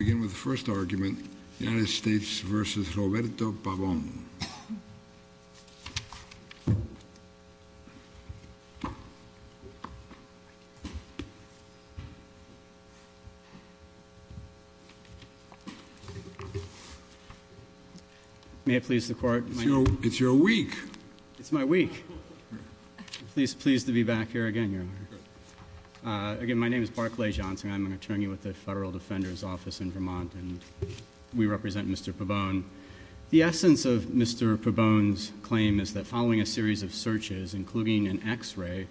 Let's begin with the first argument, United States v. Roberto Pabon. May it please the Court. It's your week. It's my week. I'm pleased to be back here again, Your Honor. Again, my name is Barclay Johnson. I'm an attorney with the Federal Defender's Office in Vermont. We represent Mr. Pabon. The essence of Mr. Pabon's claim is that following a series of searches, including an X-ray,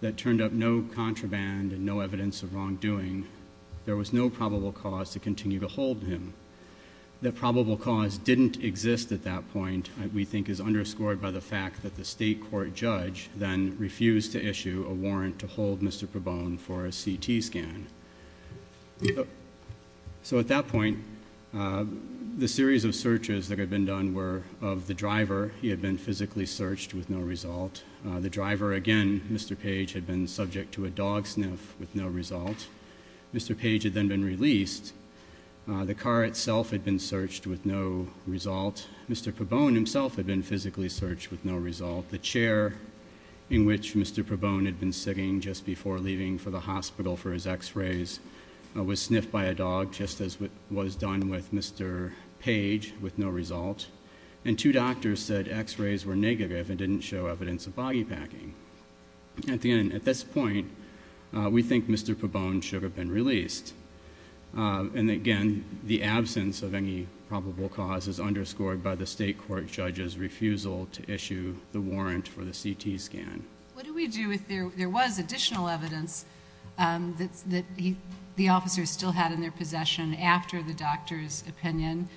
that turned up no contraband and no evidence of wrongdoing, there was no probable cause to continue to hold him. That probable cause didn't exist at that point, we think, is underscored by the fact that the state court judge then refused to issue a warrant to hold Mr. Pabon for a CT scan. So at that point, the series of searches that had been done were of the driver. He had been physically searched with no result. The driver, again, Mr. Page, had been subject to a dog sniff with no result. Mr. Page had then been released. The car itself had been searched with no result. Mr. Pabon himself had been physically searched with no result. The chair in which Mr. Pabon had been sitting just before leaving for the hospital for his X-rays was sniffed by a dog, just as was done with Mr. Page, with no result. And two doctors said X-rays were negative and didn't show evidence of body packing. At this point, we think Mr. Pabon should have been released. And again, the absence of any probable cause is underscored by the state court judge's refusal to issue the warrant for the CT scan. What do we do if there was additional evidence that the officers still had in their possession after the doctor's opinion?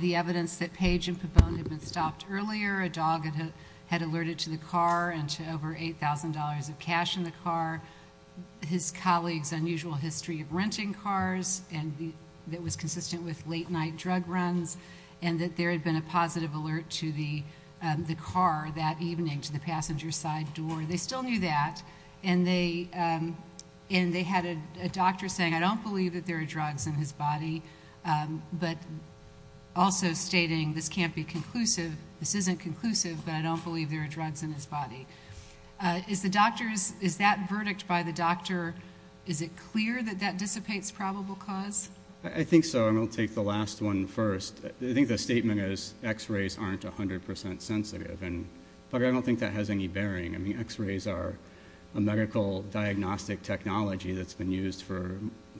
The evidence that Page and Pabon had been stopped earlier, a dog had alerted to the car and to over $8,000 of cash in the car, his colleague's unusual history of renting cars that was consistent with late-night drug runs, and that there had been a positive alert to the car that evening to the passenger side door. They still knew that, and they had a doctor saying, I don't believe that there are drugs in his body, but also stating this can't be conclusive, this isn't conclusive, Is that verdict by the doctor, is it clear that that dissipates probable cause? I think so, and I'll take the last one first. I think the statement is X-rays aren't 100% sensitive, but I don't think that has any bearing. I mean, X-rays are a medical diagnostic technology that's been used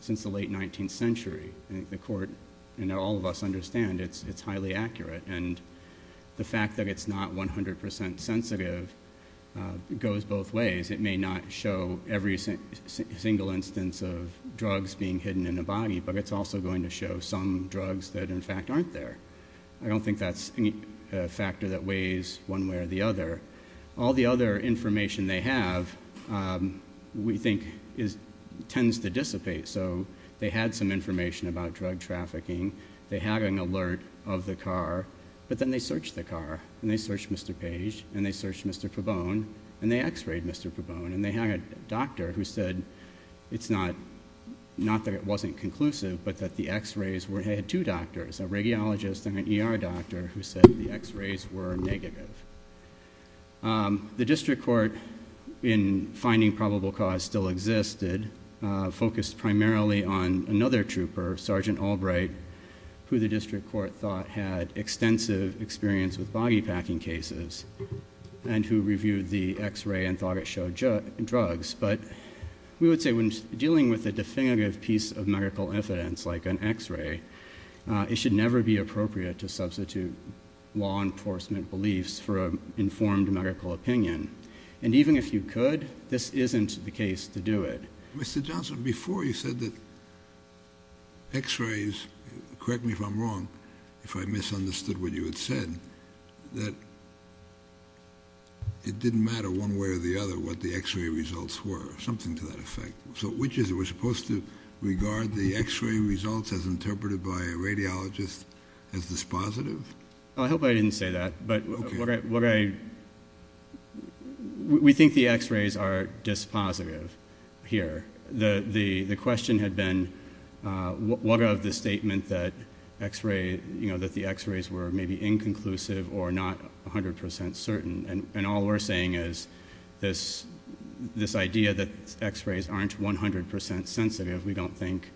since the late 19th century. I think the court and all of us understand it's highly accurate, and the fact that it's not 100% sensitive goes both ways. It may not show every single instance of drugs being hidden in a body, but it's also going to show some drugs that, in fact, aren't there. I don't think that's a factor that weighs one way or the other. All the other information they have, we think, tends to dissipate, so they had some information about drug trafficking, they had an alert of the car, but then they searched the car, and they searched Mr. Page, and they searched Mr. Pabon, and they X-rayed Mr. Pabon, and they had a doctor who said it's not that it wasn't conclusive, but that the X-rays were... they had two doctors, a radiologist and an ER doctor, who said the X-rays were negative. The district court, in finding probable cause still existed, focused primarily on another trooper, Sergeant Albright, who the district court thought had extensive experience with body packing cases and who reviewed the X-ray and thought it showed drugs. But we would say when dealing with a definitive piece of medical evidence like an X-ray, it should never be appropriate to substitute law enforcement beliefs for an informed medical opinion. And even if you could, this isn't the case to do it. Mr. Johnson, before you said that X-rays, correct me if I'm wrong, if I misunderstood what you had said, that it didn't matter one way or the other what the X-ray results were, something to that effect. So which is it? We're supposed to regard the X-ray results as interpreted by a radiologist as dispositive? I hope I didn't say that, but we think the X-rays are dispositive here. The question had been, what of the statement that the X-rays were maybe inconclusive or not 100% certain? And all we're saying is this idea that X-rays aren't 100% sensitive, we don't think,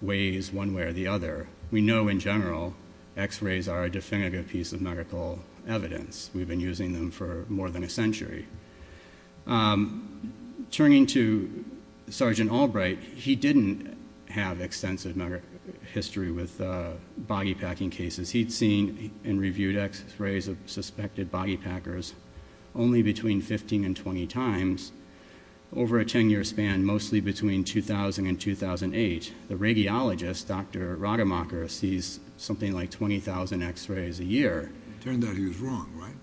weighs one way or the other. We know in general X-rays are a definitive piece of medical evidence. We've been using them for more than a century. Turning to Sergeant Albright, he didn't have extensive medical history with boggy packing cases. He'd seen and reviewed X-rays of suspected boggy packers only between 15 and 20 times over a 10-year span, mostly between 2000 and 2008. The radiologist, Dr. Rademacher, sees something like 20,000 X-rays a year. It turned out he was wrong, right?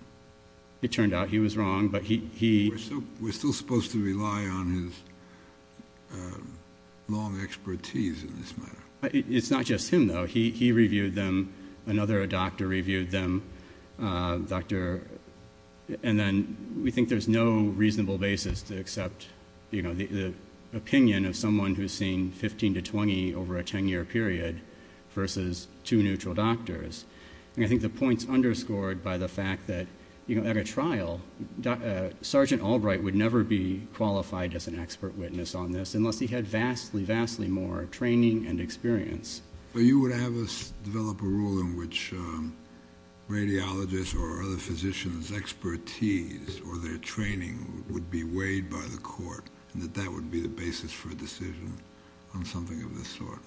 It turned out he was wrong, but he... We're still supposed to rely on his long expertise in this matter. It's not just him, though. He reviewed them. Another doctor reviewed them. And then we think there's no reasonable basis to accept, you know, the opinion of someone who's seen 15 to 20 over a 10-year period versus two neutral doctors. And I think the point's underscored by the fact that, you know, at a trial, Sergeant Albright would never be qualified as an expert witness on this unless he had vastly, vastly more training and experience. But you would have us develop a rule in which radiologists or other physicians' expertise or their training would be weighed by the court and that that would be the basis for a decision on something of this sort.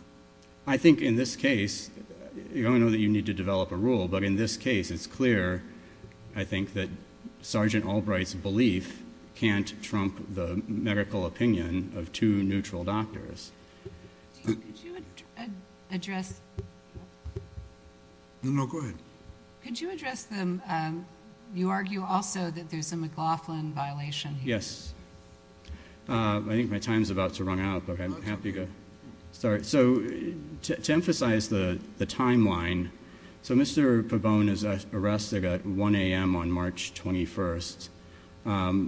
I think in this case, I know that you need to develop a rule, but in this case it's clear, I think, that Sergeant Albright's belief can't trump the medical opinion of two neutral doctors. Could you address them? You argue also that there's a McLaughlin violation here. Yes. I think my time's about to run out, but I'm happy to start. So to emphasize the timeline, so Mr. Pabon is arrested at 1 a.m. on March 21st.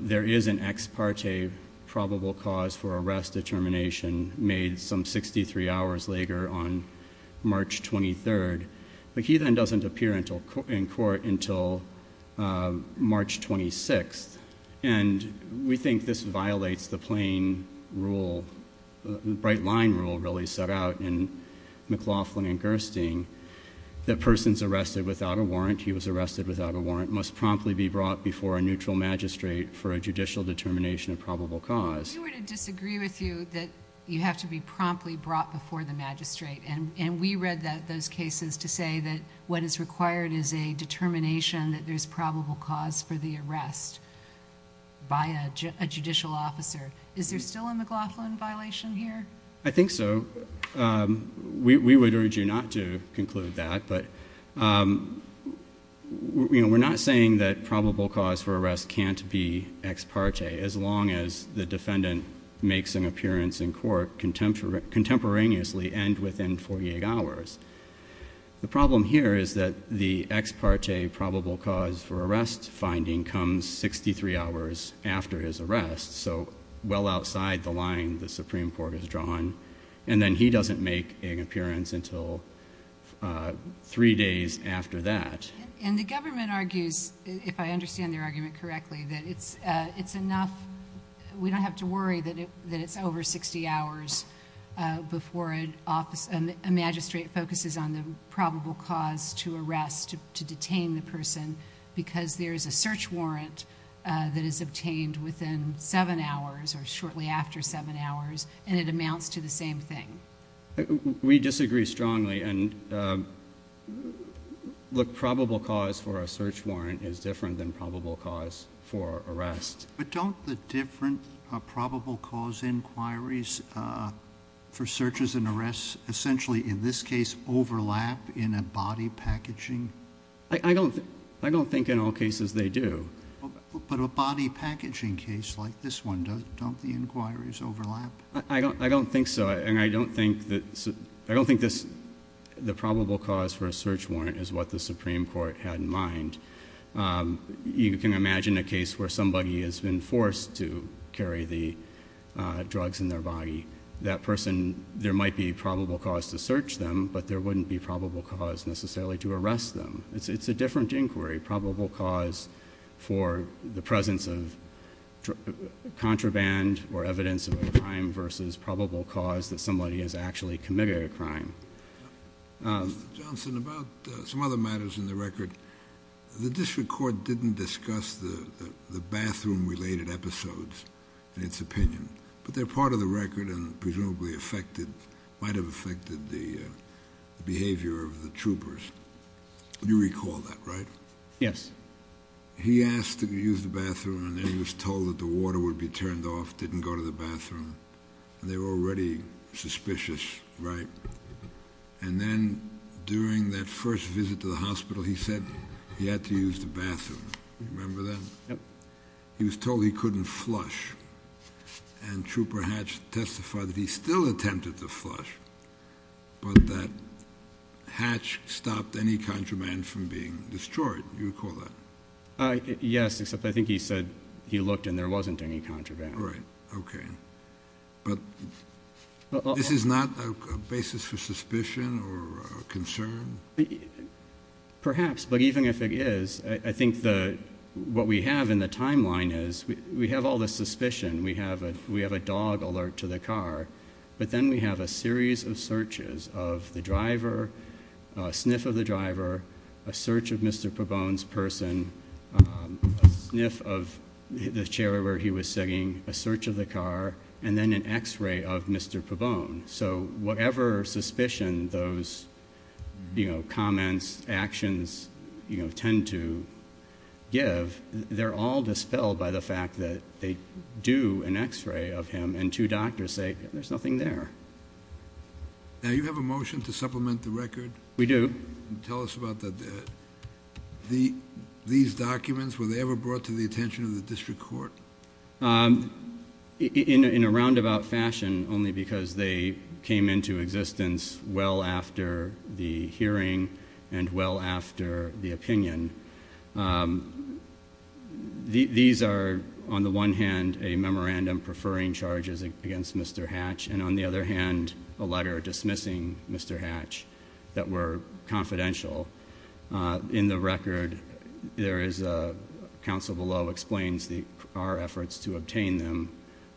There is an ex parte probable cause for arrest determination made some 63 hours later on March 23rd, but he then doesn't appear in court until March 26th. And we think this violates the plain rule, the bright line rule, really, set out in McLaughlin and Gerstein. The person's arrested without a warrant, he was arrested without a warrant, must promptly be brought before a neutral magistrate for a judicial determination of probable cause. We were to disagree with you that you have to be promptly brought before the magistrate, and we read those cases to say that what is required is a determination that there's probable cause for the arrest by a judicial officer. Is there still a McLaughlin violation here? I think so. We would urge you not to conclude that, but we're not saying that probable cause for arrest can't be ex parte as long as the defendant makes an appearance in court contemporaneously and within 48 hours. The problem here is that the ex parte probable cause for arrest finding comes 63 hours after his arrest, so well outside the line the Supreme Court has drawn, and then he doesn't make an appearance until three days after that. And the government argues, if I understand their argument correctly, that it's enough, we don't have to worry that it's over 60 hours before a magistrate focuses on the probable cause to arrest, to detain the person, because there is a search warrant that is obtained within seven hours or shortly after seven hours, and it amounts to the same thing. We disagree strongly. Look, probable cause for a search warrant is different than probable cause for arrest. But don't the different probable cause inquiries for searches and arrests essentially in this case overlap in a body packaging? I don't think in all cases they do. But a body packaging case like this one, don't the inquiries overlap? I don't think so, and I don't think the probable cause for a search warrant is what the Supreme Court had in mind. You can imagine a case where somebody has been forced to carry the drugs in their body. That person, there might be probable cause to search them, but there wouldn't be probable cause necessarily to arrest them. It's a different inquiry, probable cause for the presence of contraband or evidence of a crime versus probable cause that somebody has actually committed a crime. Mr. Johnson, about some other matters in the record, the district court didn't discuss the bathroom-related episodes in its opinion, but they're part of the record and presumably might have affected the behavior of the troopers. You recall that, right? Yes. He asked to use the bathroom, and then he was told that the water would be turned off, didn't go to the bathroom, and they were already suspicious, right? And then during that first visit to the hospital, he said he had to use the bathroom. Remember that? Yep. He was told he couldn't flush, and Trooper Hatch testified that he still attempted to flush, but that Hatch stopped any contraband from being destroyed. You recall that? Yes, except I think he said he looked and there wasn't any contraband. Right. Okay. But this is not a basis for suspicion or concern? Perhaps, but even if it is, I think what we have in the timeline is we have all this suspicion. We have a dog alert to the car. But then we have a series of searches of the driver, a sniff of the driver, a search of Mr. Pabon's person, a sniff of the chair where he was sitting, a search of the car, and then an X-ray of Mr. Pabon. So whatever suspicion those comments, actions tend to give, they're all dispelled by the fact that they do an X-ray of him, and two doctors say there's nothing there. Now, you have a motion to supplement the record? We do. Tell us about these documents. Were they ever brought to the attention of the district court? In a roundabout fashion, only because they came into existence well after the hearing and well after the opinion. These are, on the one hand, a memorandum preferring charges against Mr. Hatch, and on the other hand, a letter dismissing Mr. Hatch that were confidential. In the record, there is a counsel below explains our efforts to obtain them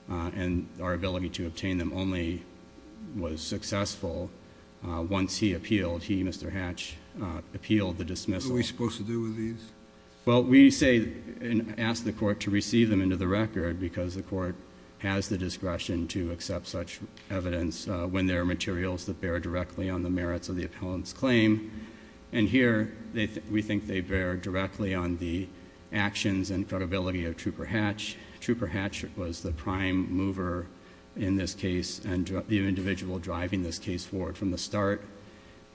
and our ability to obtain them only was successful once he appealed. He, Mr. Hatch, appealed the dismissal. What are we supposed to do with these? Well, we say and ask the court to receive them into the record because the court has the discretion to accept such evidence when there are materials that bear directly on the merits of the appellant's claim. And here, we think they bear directly on the actions and credibility of Trooper Hatch. Trooper Hatch was the prime mover in this case and the individual driving this case forward from the start.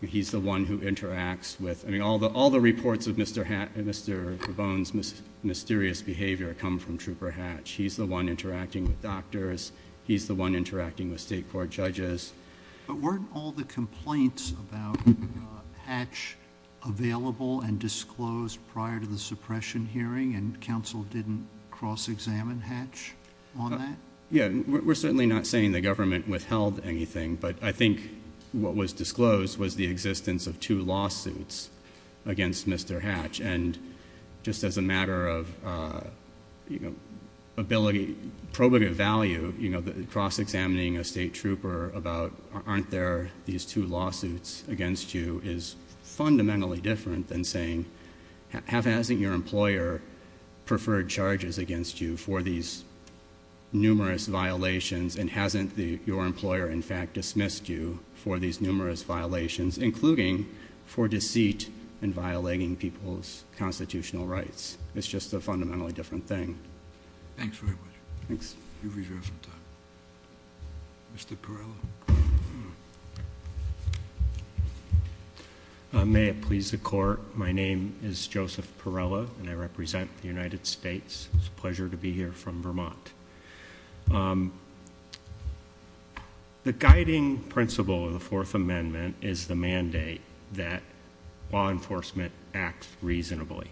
He's the one who interacts with, I mean, all the reports of Mr. Bohn's mysterious behavior come from Trooper Hatch. He's the one interacting with doctors. He's the one interacting with state court judges. But weren't all the complaints about Hatch available and disclosed prior to the suppression hearing and counsel didn't cross-examine Hatch on that? Yeah, we're certainly not saying the government withheld anything, but I think what was disclosed was the existence of two lawsuits against Mr. Hatch. And just as a matter of ability, probative value, cross-examining a state trooper about aren't there these two lawsuits against you is fundamentally different than saying hasn't your employer preferred charges against you for these numerous violations and hasn't your employer, in fact, dismissed you for these numerous violations, including for deceit and violating people's constitutional rights. It's just a fundamentally different thing. Thanks very much. Thanks. You've reserved some time. Mr. Perrella. May it please the court, my name is Joseph Perrella, and I represent the United States. It's a pleasure to be here from Vermont. The guiding principle of the Fourth Amendment is the mandate that law enforcement acts reasonably.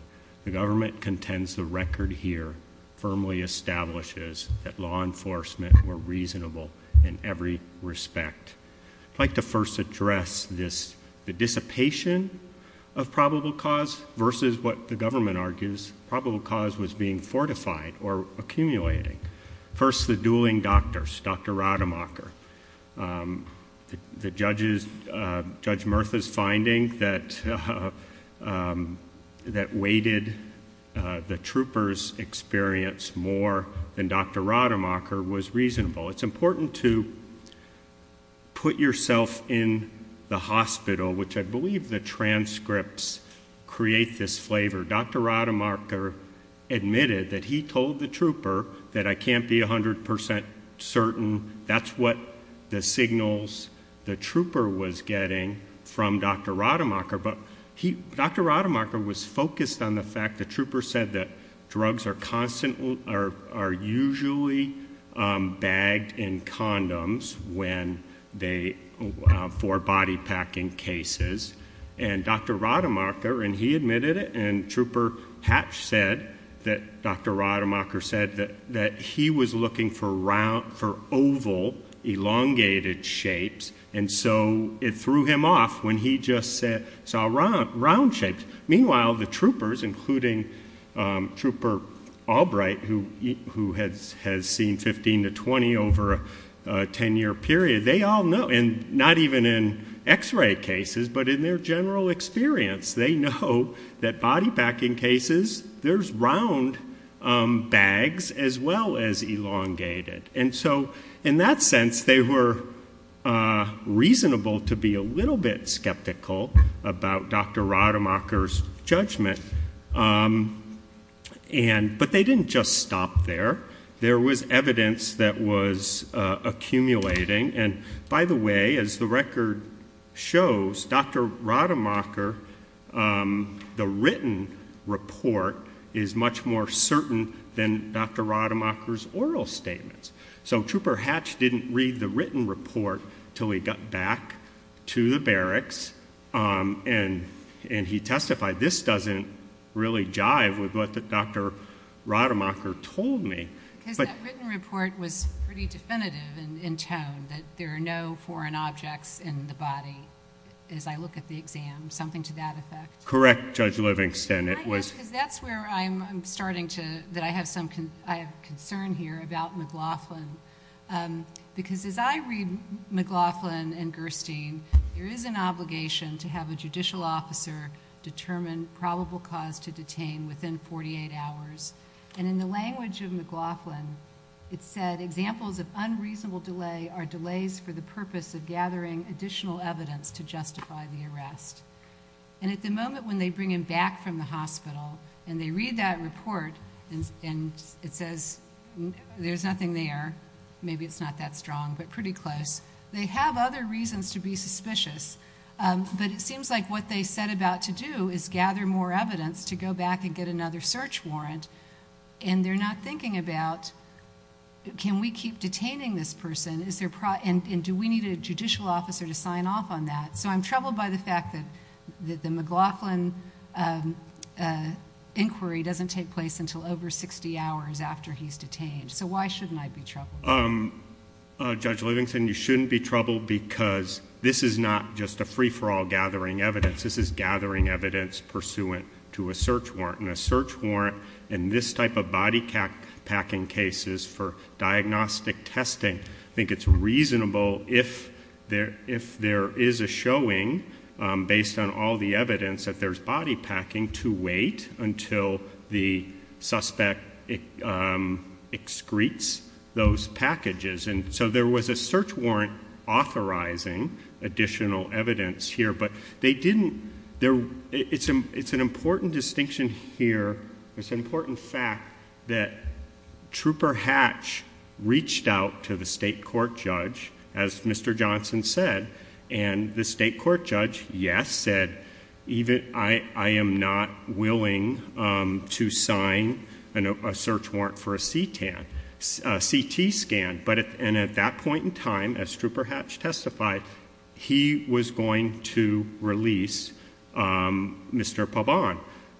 The government contends the record here firmly establishes that law enforcement were reasonable in every respect. I'd like to first address the dissipation of probable cause versus what the government argues. Probable cause was being fortified or accumulating. First, the dueling doctors, Dr. Rademacher. The judges, Judge Murtha's finding that weighted the troopers' experience more than Dr. Rademacher was reasonable. It's important to put yourself in the hospital, which I believe the transcripts create this flavor. Dr. Rademacher admitted that he told the trooper that I can't be 100% certain that's what the signals the trooper was getting from Dr. Rademacher. Dr. Rademacher was focused on the fact the trooper said that drugs are usually bagged in condoms for body packing cases. Dr. Rademacher admitted it, and Trooper Hatch said that Dr. Rademacher said that he was looking for oval, elongated shapes, and so it threw him off when he just saw round shapes. Meanwhile, the troopers, including Trooper Albright, who has seen 15 to 20 over a 10-year period, they all know, and not even in x-ray cases, but in their general experience, they know that body packing cases, there's round bags as well as elongated. And so in that sense, they were reasonable to be a little bit skeptical about Dr. Rademacher's judgment, but they didn't just stop there. There was evidence that was accumulating, and by the way, as the record shows, Dr. Rademacher, the written report is much more certain than Dr. Rademacher's oral statements. So Trooper Hatch didn't read the written report until he got back to the barracks, and he testified, this doesn't really jive with what Dr. Rademacher told me. Because that written report was pretty definitive in tone, that there are no foreign objects in the body as I look at the exam, something to that effect. Correct, Judge Livingston. Can I ask, because that's where I'm starting to, that I have concern here about McLaughlin, because as I read McLaughlin and Gerstein, there is an obligation to have a judicial officer determine probable cause to detain within 48 hours. And in the language of McLaughlin, it said, examples of unreasonable delay are delays for the purpose of gathering additional evidence to justify the arrest. And at the moment when they bring him back from the hospital and they read that report, and it says there's nothing there, maybe it's not that strong, but pretty close, they have other reasons to be suspicious. But it seems like what they set about to do is gather more evidence to go back and get another search warrant, and they're not thinking about can we keep detaining this person, and do we need a judicial officer to sign off on that? So I'm troubled by the fact that the McLaughlin inquiry doesn't take place until over 60 hours after he's detained. So why shouldn't I be troubled? Judge Livingston, you shouldn't be troubled because this is not just a free-for-all gathering evidence. This is gathering evidence pursuant to a search warrant, and a search warrant in this type of body packing case is for diagnostic testing. I think it's reasonable if there is a showing based on all the evidence that there's body packing, to wait until the suspect excretes those packages. And so there was a search warrant authorizing additional evidence here, but they didn't ‑‑ as Mr. Johnson said, and the state court judge, yes, said, I am not willing to sign a search warrant for a CT scan. And at that point in time, as Struper Hatch testified, he was going to release Mr. Pabon.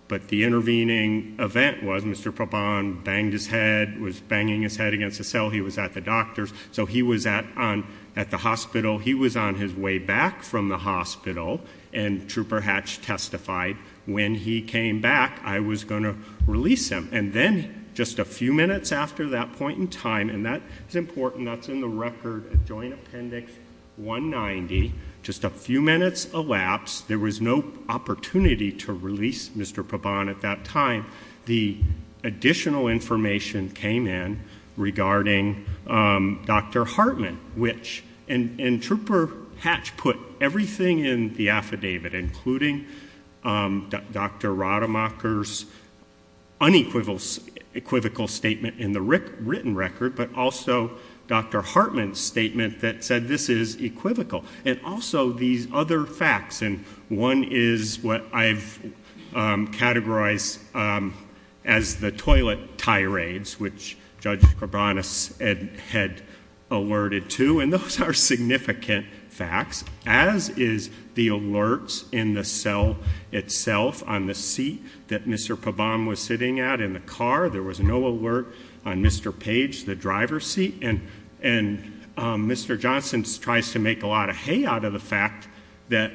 But the intervening event was Mr. Pabon banged his head, was banging his head against a cell. He was at the doctor's. So he was at the hospital. He was on his way back from the hospital, and Struper Hatch testified, when he came back, I was going to release him. And then just a few minutes after that point in time, and that's important. That's in the record, Adjoint Appendix 190. Just a few minutes elapsed. There was no opportunity to release Mr. Pabon at that time. The additional information came in regarding Dr. Hartman, which ‑‑ and Struper Hatch put everything in the affidavit, including Dr. Rademacher's unequivocal statement in the written record, but also Dr. Hartman's statement that said this is equivocal. And also these other facts, and one is what I've categorized as the toilet tirades, which Judge Cabranes had alerted to, and those are significant facts, as is the alerts in the cell itself on the seat that Mr. Pabon was sitting at in the car. There was no alert on Mr. Page, the driver's seat. And Mr. Johnson tries to make a lot of hay out of the fact that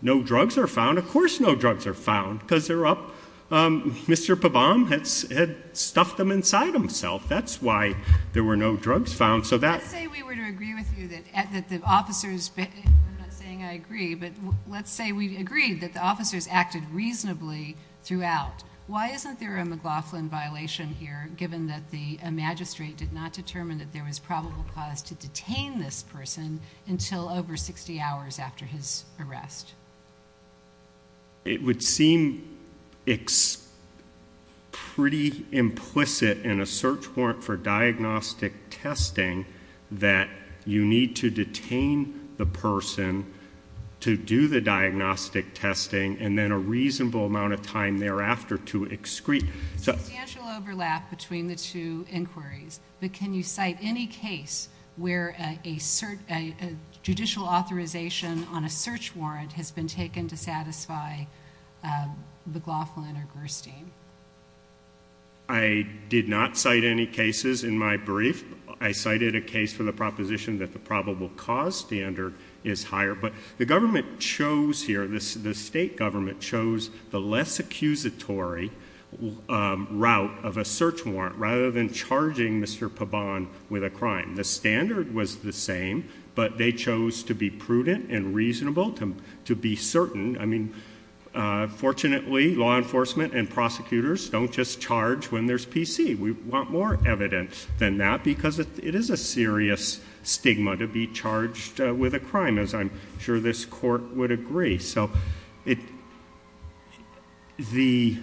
no drugs are found. Of course no drugs are found because they're up. Mr. Pabon had stuffed them inside himself. That's why there were no drugs found. Let's say we were to agree with you that the officers ‑‑ I'm not saying I agree, but let's say we agreed that the officers acted reasonably throughout. Why isn't there a McLaughlin violation here, given that the magistrate did not determine that there was probable cause to detain this person until over 60 hours after his arrest? It would seem pretty implicit in a search warrant for diagnostic testing that you need to detain the person to do the diagnostic testing and then a reasonable amount of time thereafter to excrete. There's substantial overlap between the two inquiries, but can you cite any case where a judicial authorization on a search warrant has been taken to satisfy McLaughlin or Gerstein? I did not cite any cases in my brief. I cited a case for the proposition that the probable cause standard is higher, but the state government chose the less accusatory route of a search warrant rather than charging Mr. Pabon with a crime. The standard was the same, but they chose to be prudent and reasonable, to be certain. Fortunately, law enforcement and prosecutors don't just charge when there's PC. We want more evidence than that because it is a serious stigma to be charged with a crime, as I'm sure this court would agree. The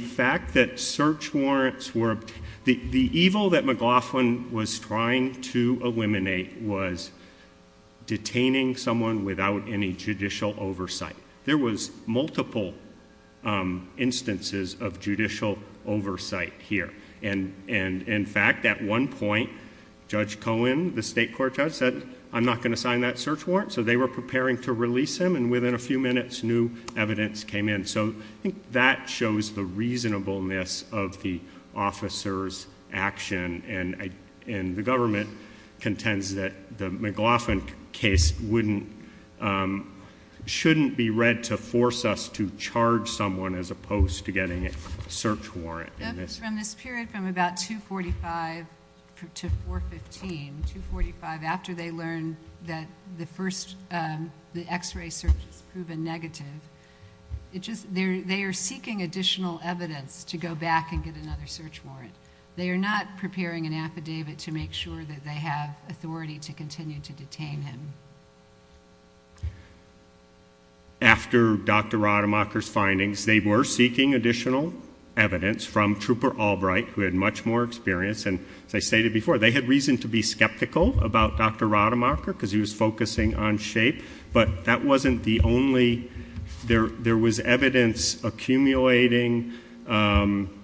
fact that search warrants were... The evil that McLaughlin was trying to eliminate was detaining someone without any judicial oversight. There was multiple instances of judicial oversight here. In fact, at one point, Judge Cohen, the state court judge, said, I'm not going to sign that search warrant. They were preparing to release him, and within a few minutes, new evidence came in. I think that shows the reasonableness of the officer's action. The government contends that the McLaughlin case shouldn't be read to force us to charge someone as opposed to getting a search warrant. From this period, from about 245 to 415, 245 after they learned that the X-ray search was proven negative, they are seeking additional evidence to go back and get another search warrant. They are not preparing an affidavit to make sure that they have authority to continue to detain him. After Dr. Rademacher's findings, they were seeking additional evidence from Trooper Albright, who had much more experience. As I stated before, they had reason to be skeptical about Dr. Rademacher because he was focusing on shape, but that wasn't the only... There was evidence accumulating from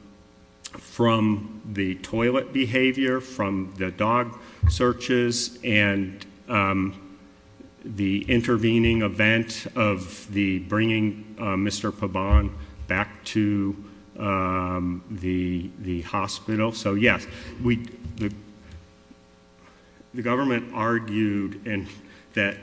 the toilet behavior, from the dog searches, and the intervening event of bringing Mr. Pabon back to the hospital. So yes, the government argued that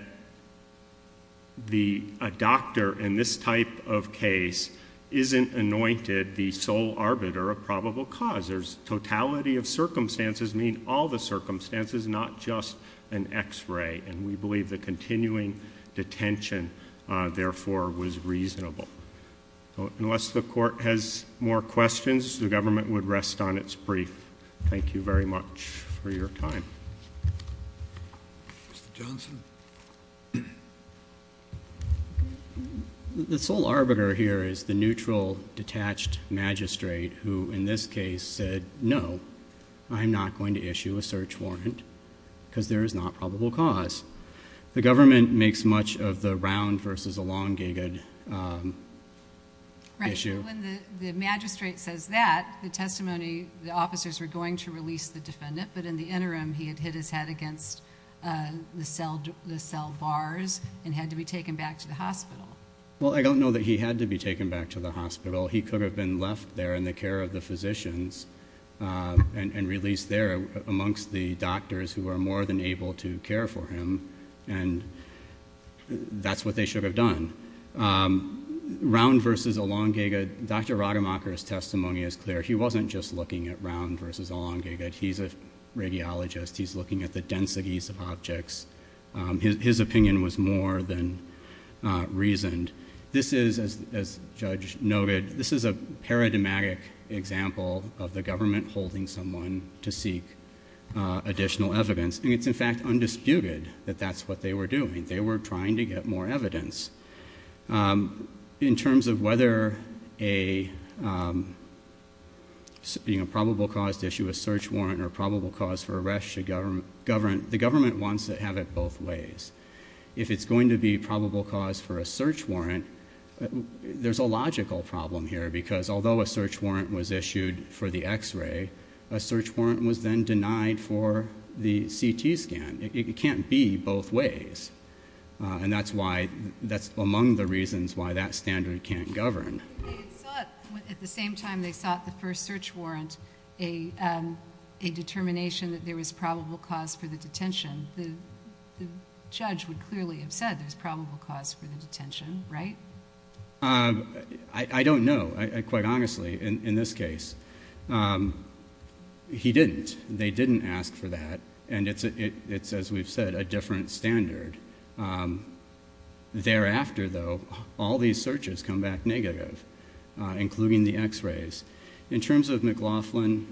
a doctor in this type of case isn't anointed the sole arbiter of probable cause. There's totality of circumstances, meaning all the circumstances, not just an X-ray, and we believe the continuing detention, therefore, was reasonable. Unless the Court has more questions, the government would rest on its brief. Thank you very much for your time. Mr. Johnson? The sole arbiter here is the neutral, detached magistrate, who, in this case, said, no, I'm not going to issue a search warrant because there is not probable cause. The government makes much of the round versus the long gigged issue. Right. When the magistrate says that, the testimony... the officers were going to release the defendant, but in the interim he had hit his head against the cell bars and had to be taken back to the hospital. Well, I don't know that he had to be taken back to the hospital. He could have been left there in the care of the physicians and released there amongst the doctors who were more than able to care for him, and that's what they should have done. Round versus a long gigged, Dr. Rademacher's testimony is clear. He wasn't just looking at round versus a long gigged. He's a radiologist. He's looking at the densities of objects. His opinion was more than reasoned. This is, as Judge noted, this is a paradigmatic example of the government holding someone to seek additional evidence, and it's, in fact, undisputed that that's what they were doing. They were trying to get more evidence. In terms of whether a probable cause to issue a search warrant or probable cause for arrest, the government wants to have it both ways. If it's going to be probable cause for a search warrant, there's a logical problem here, because although a search warrant was issued for the X-ray, a search warrant was then denied for the CT scan. It can't be both ways, and that's among the reasons why that standard can't govern. At the same time they sought the first search warrant, a determination that there was probable cause for the detention, the judge would clearly have said there's probable cause for the detention, right? I don't know, quite honestly, in this case. He didn't. They didn't ask for that, and it's, as we've said, a different standard. Thereafter, though, all these searches come back negative, including the X-rays. In terms of McLaughlin...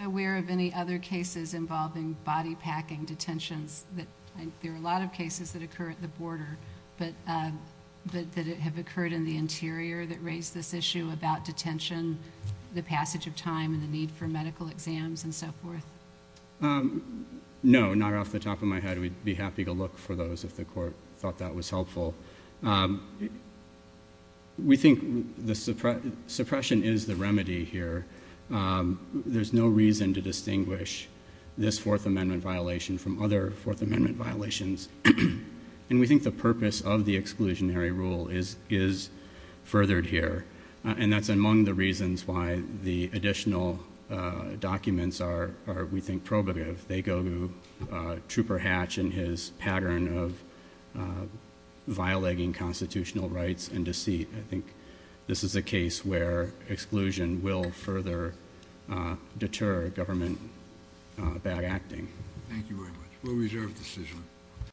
Are you aware of any other cases involving body-packing detentions? There are a lot of cases that occur at the border, but did it have occurred in the interior that raised this issue about detention, the passage of time, and the need for medical exams and so forth? No, not off the top of my head. We'd be happy to look for those if the court thought that was helpful. We think suppression is the remedy here. There's no reason to distinguish this Fourth Amendment violation from other Fourth Amendment violations, and we think the purpose of the exclusionary rule is furthered here, and that's among the reasons why the additional documents are, we think, probative. They go to Trooper Hatch and his pattern of violating constitutional rights and deceit. I think this is a case where exclusion will further deter government bad acting. Thank you very much. We'll reserve the decision.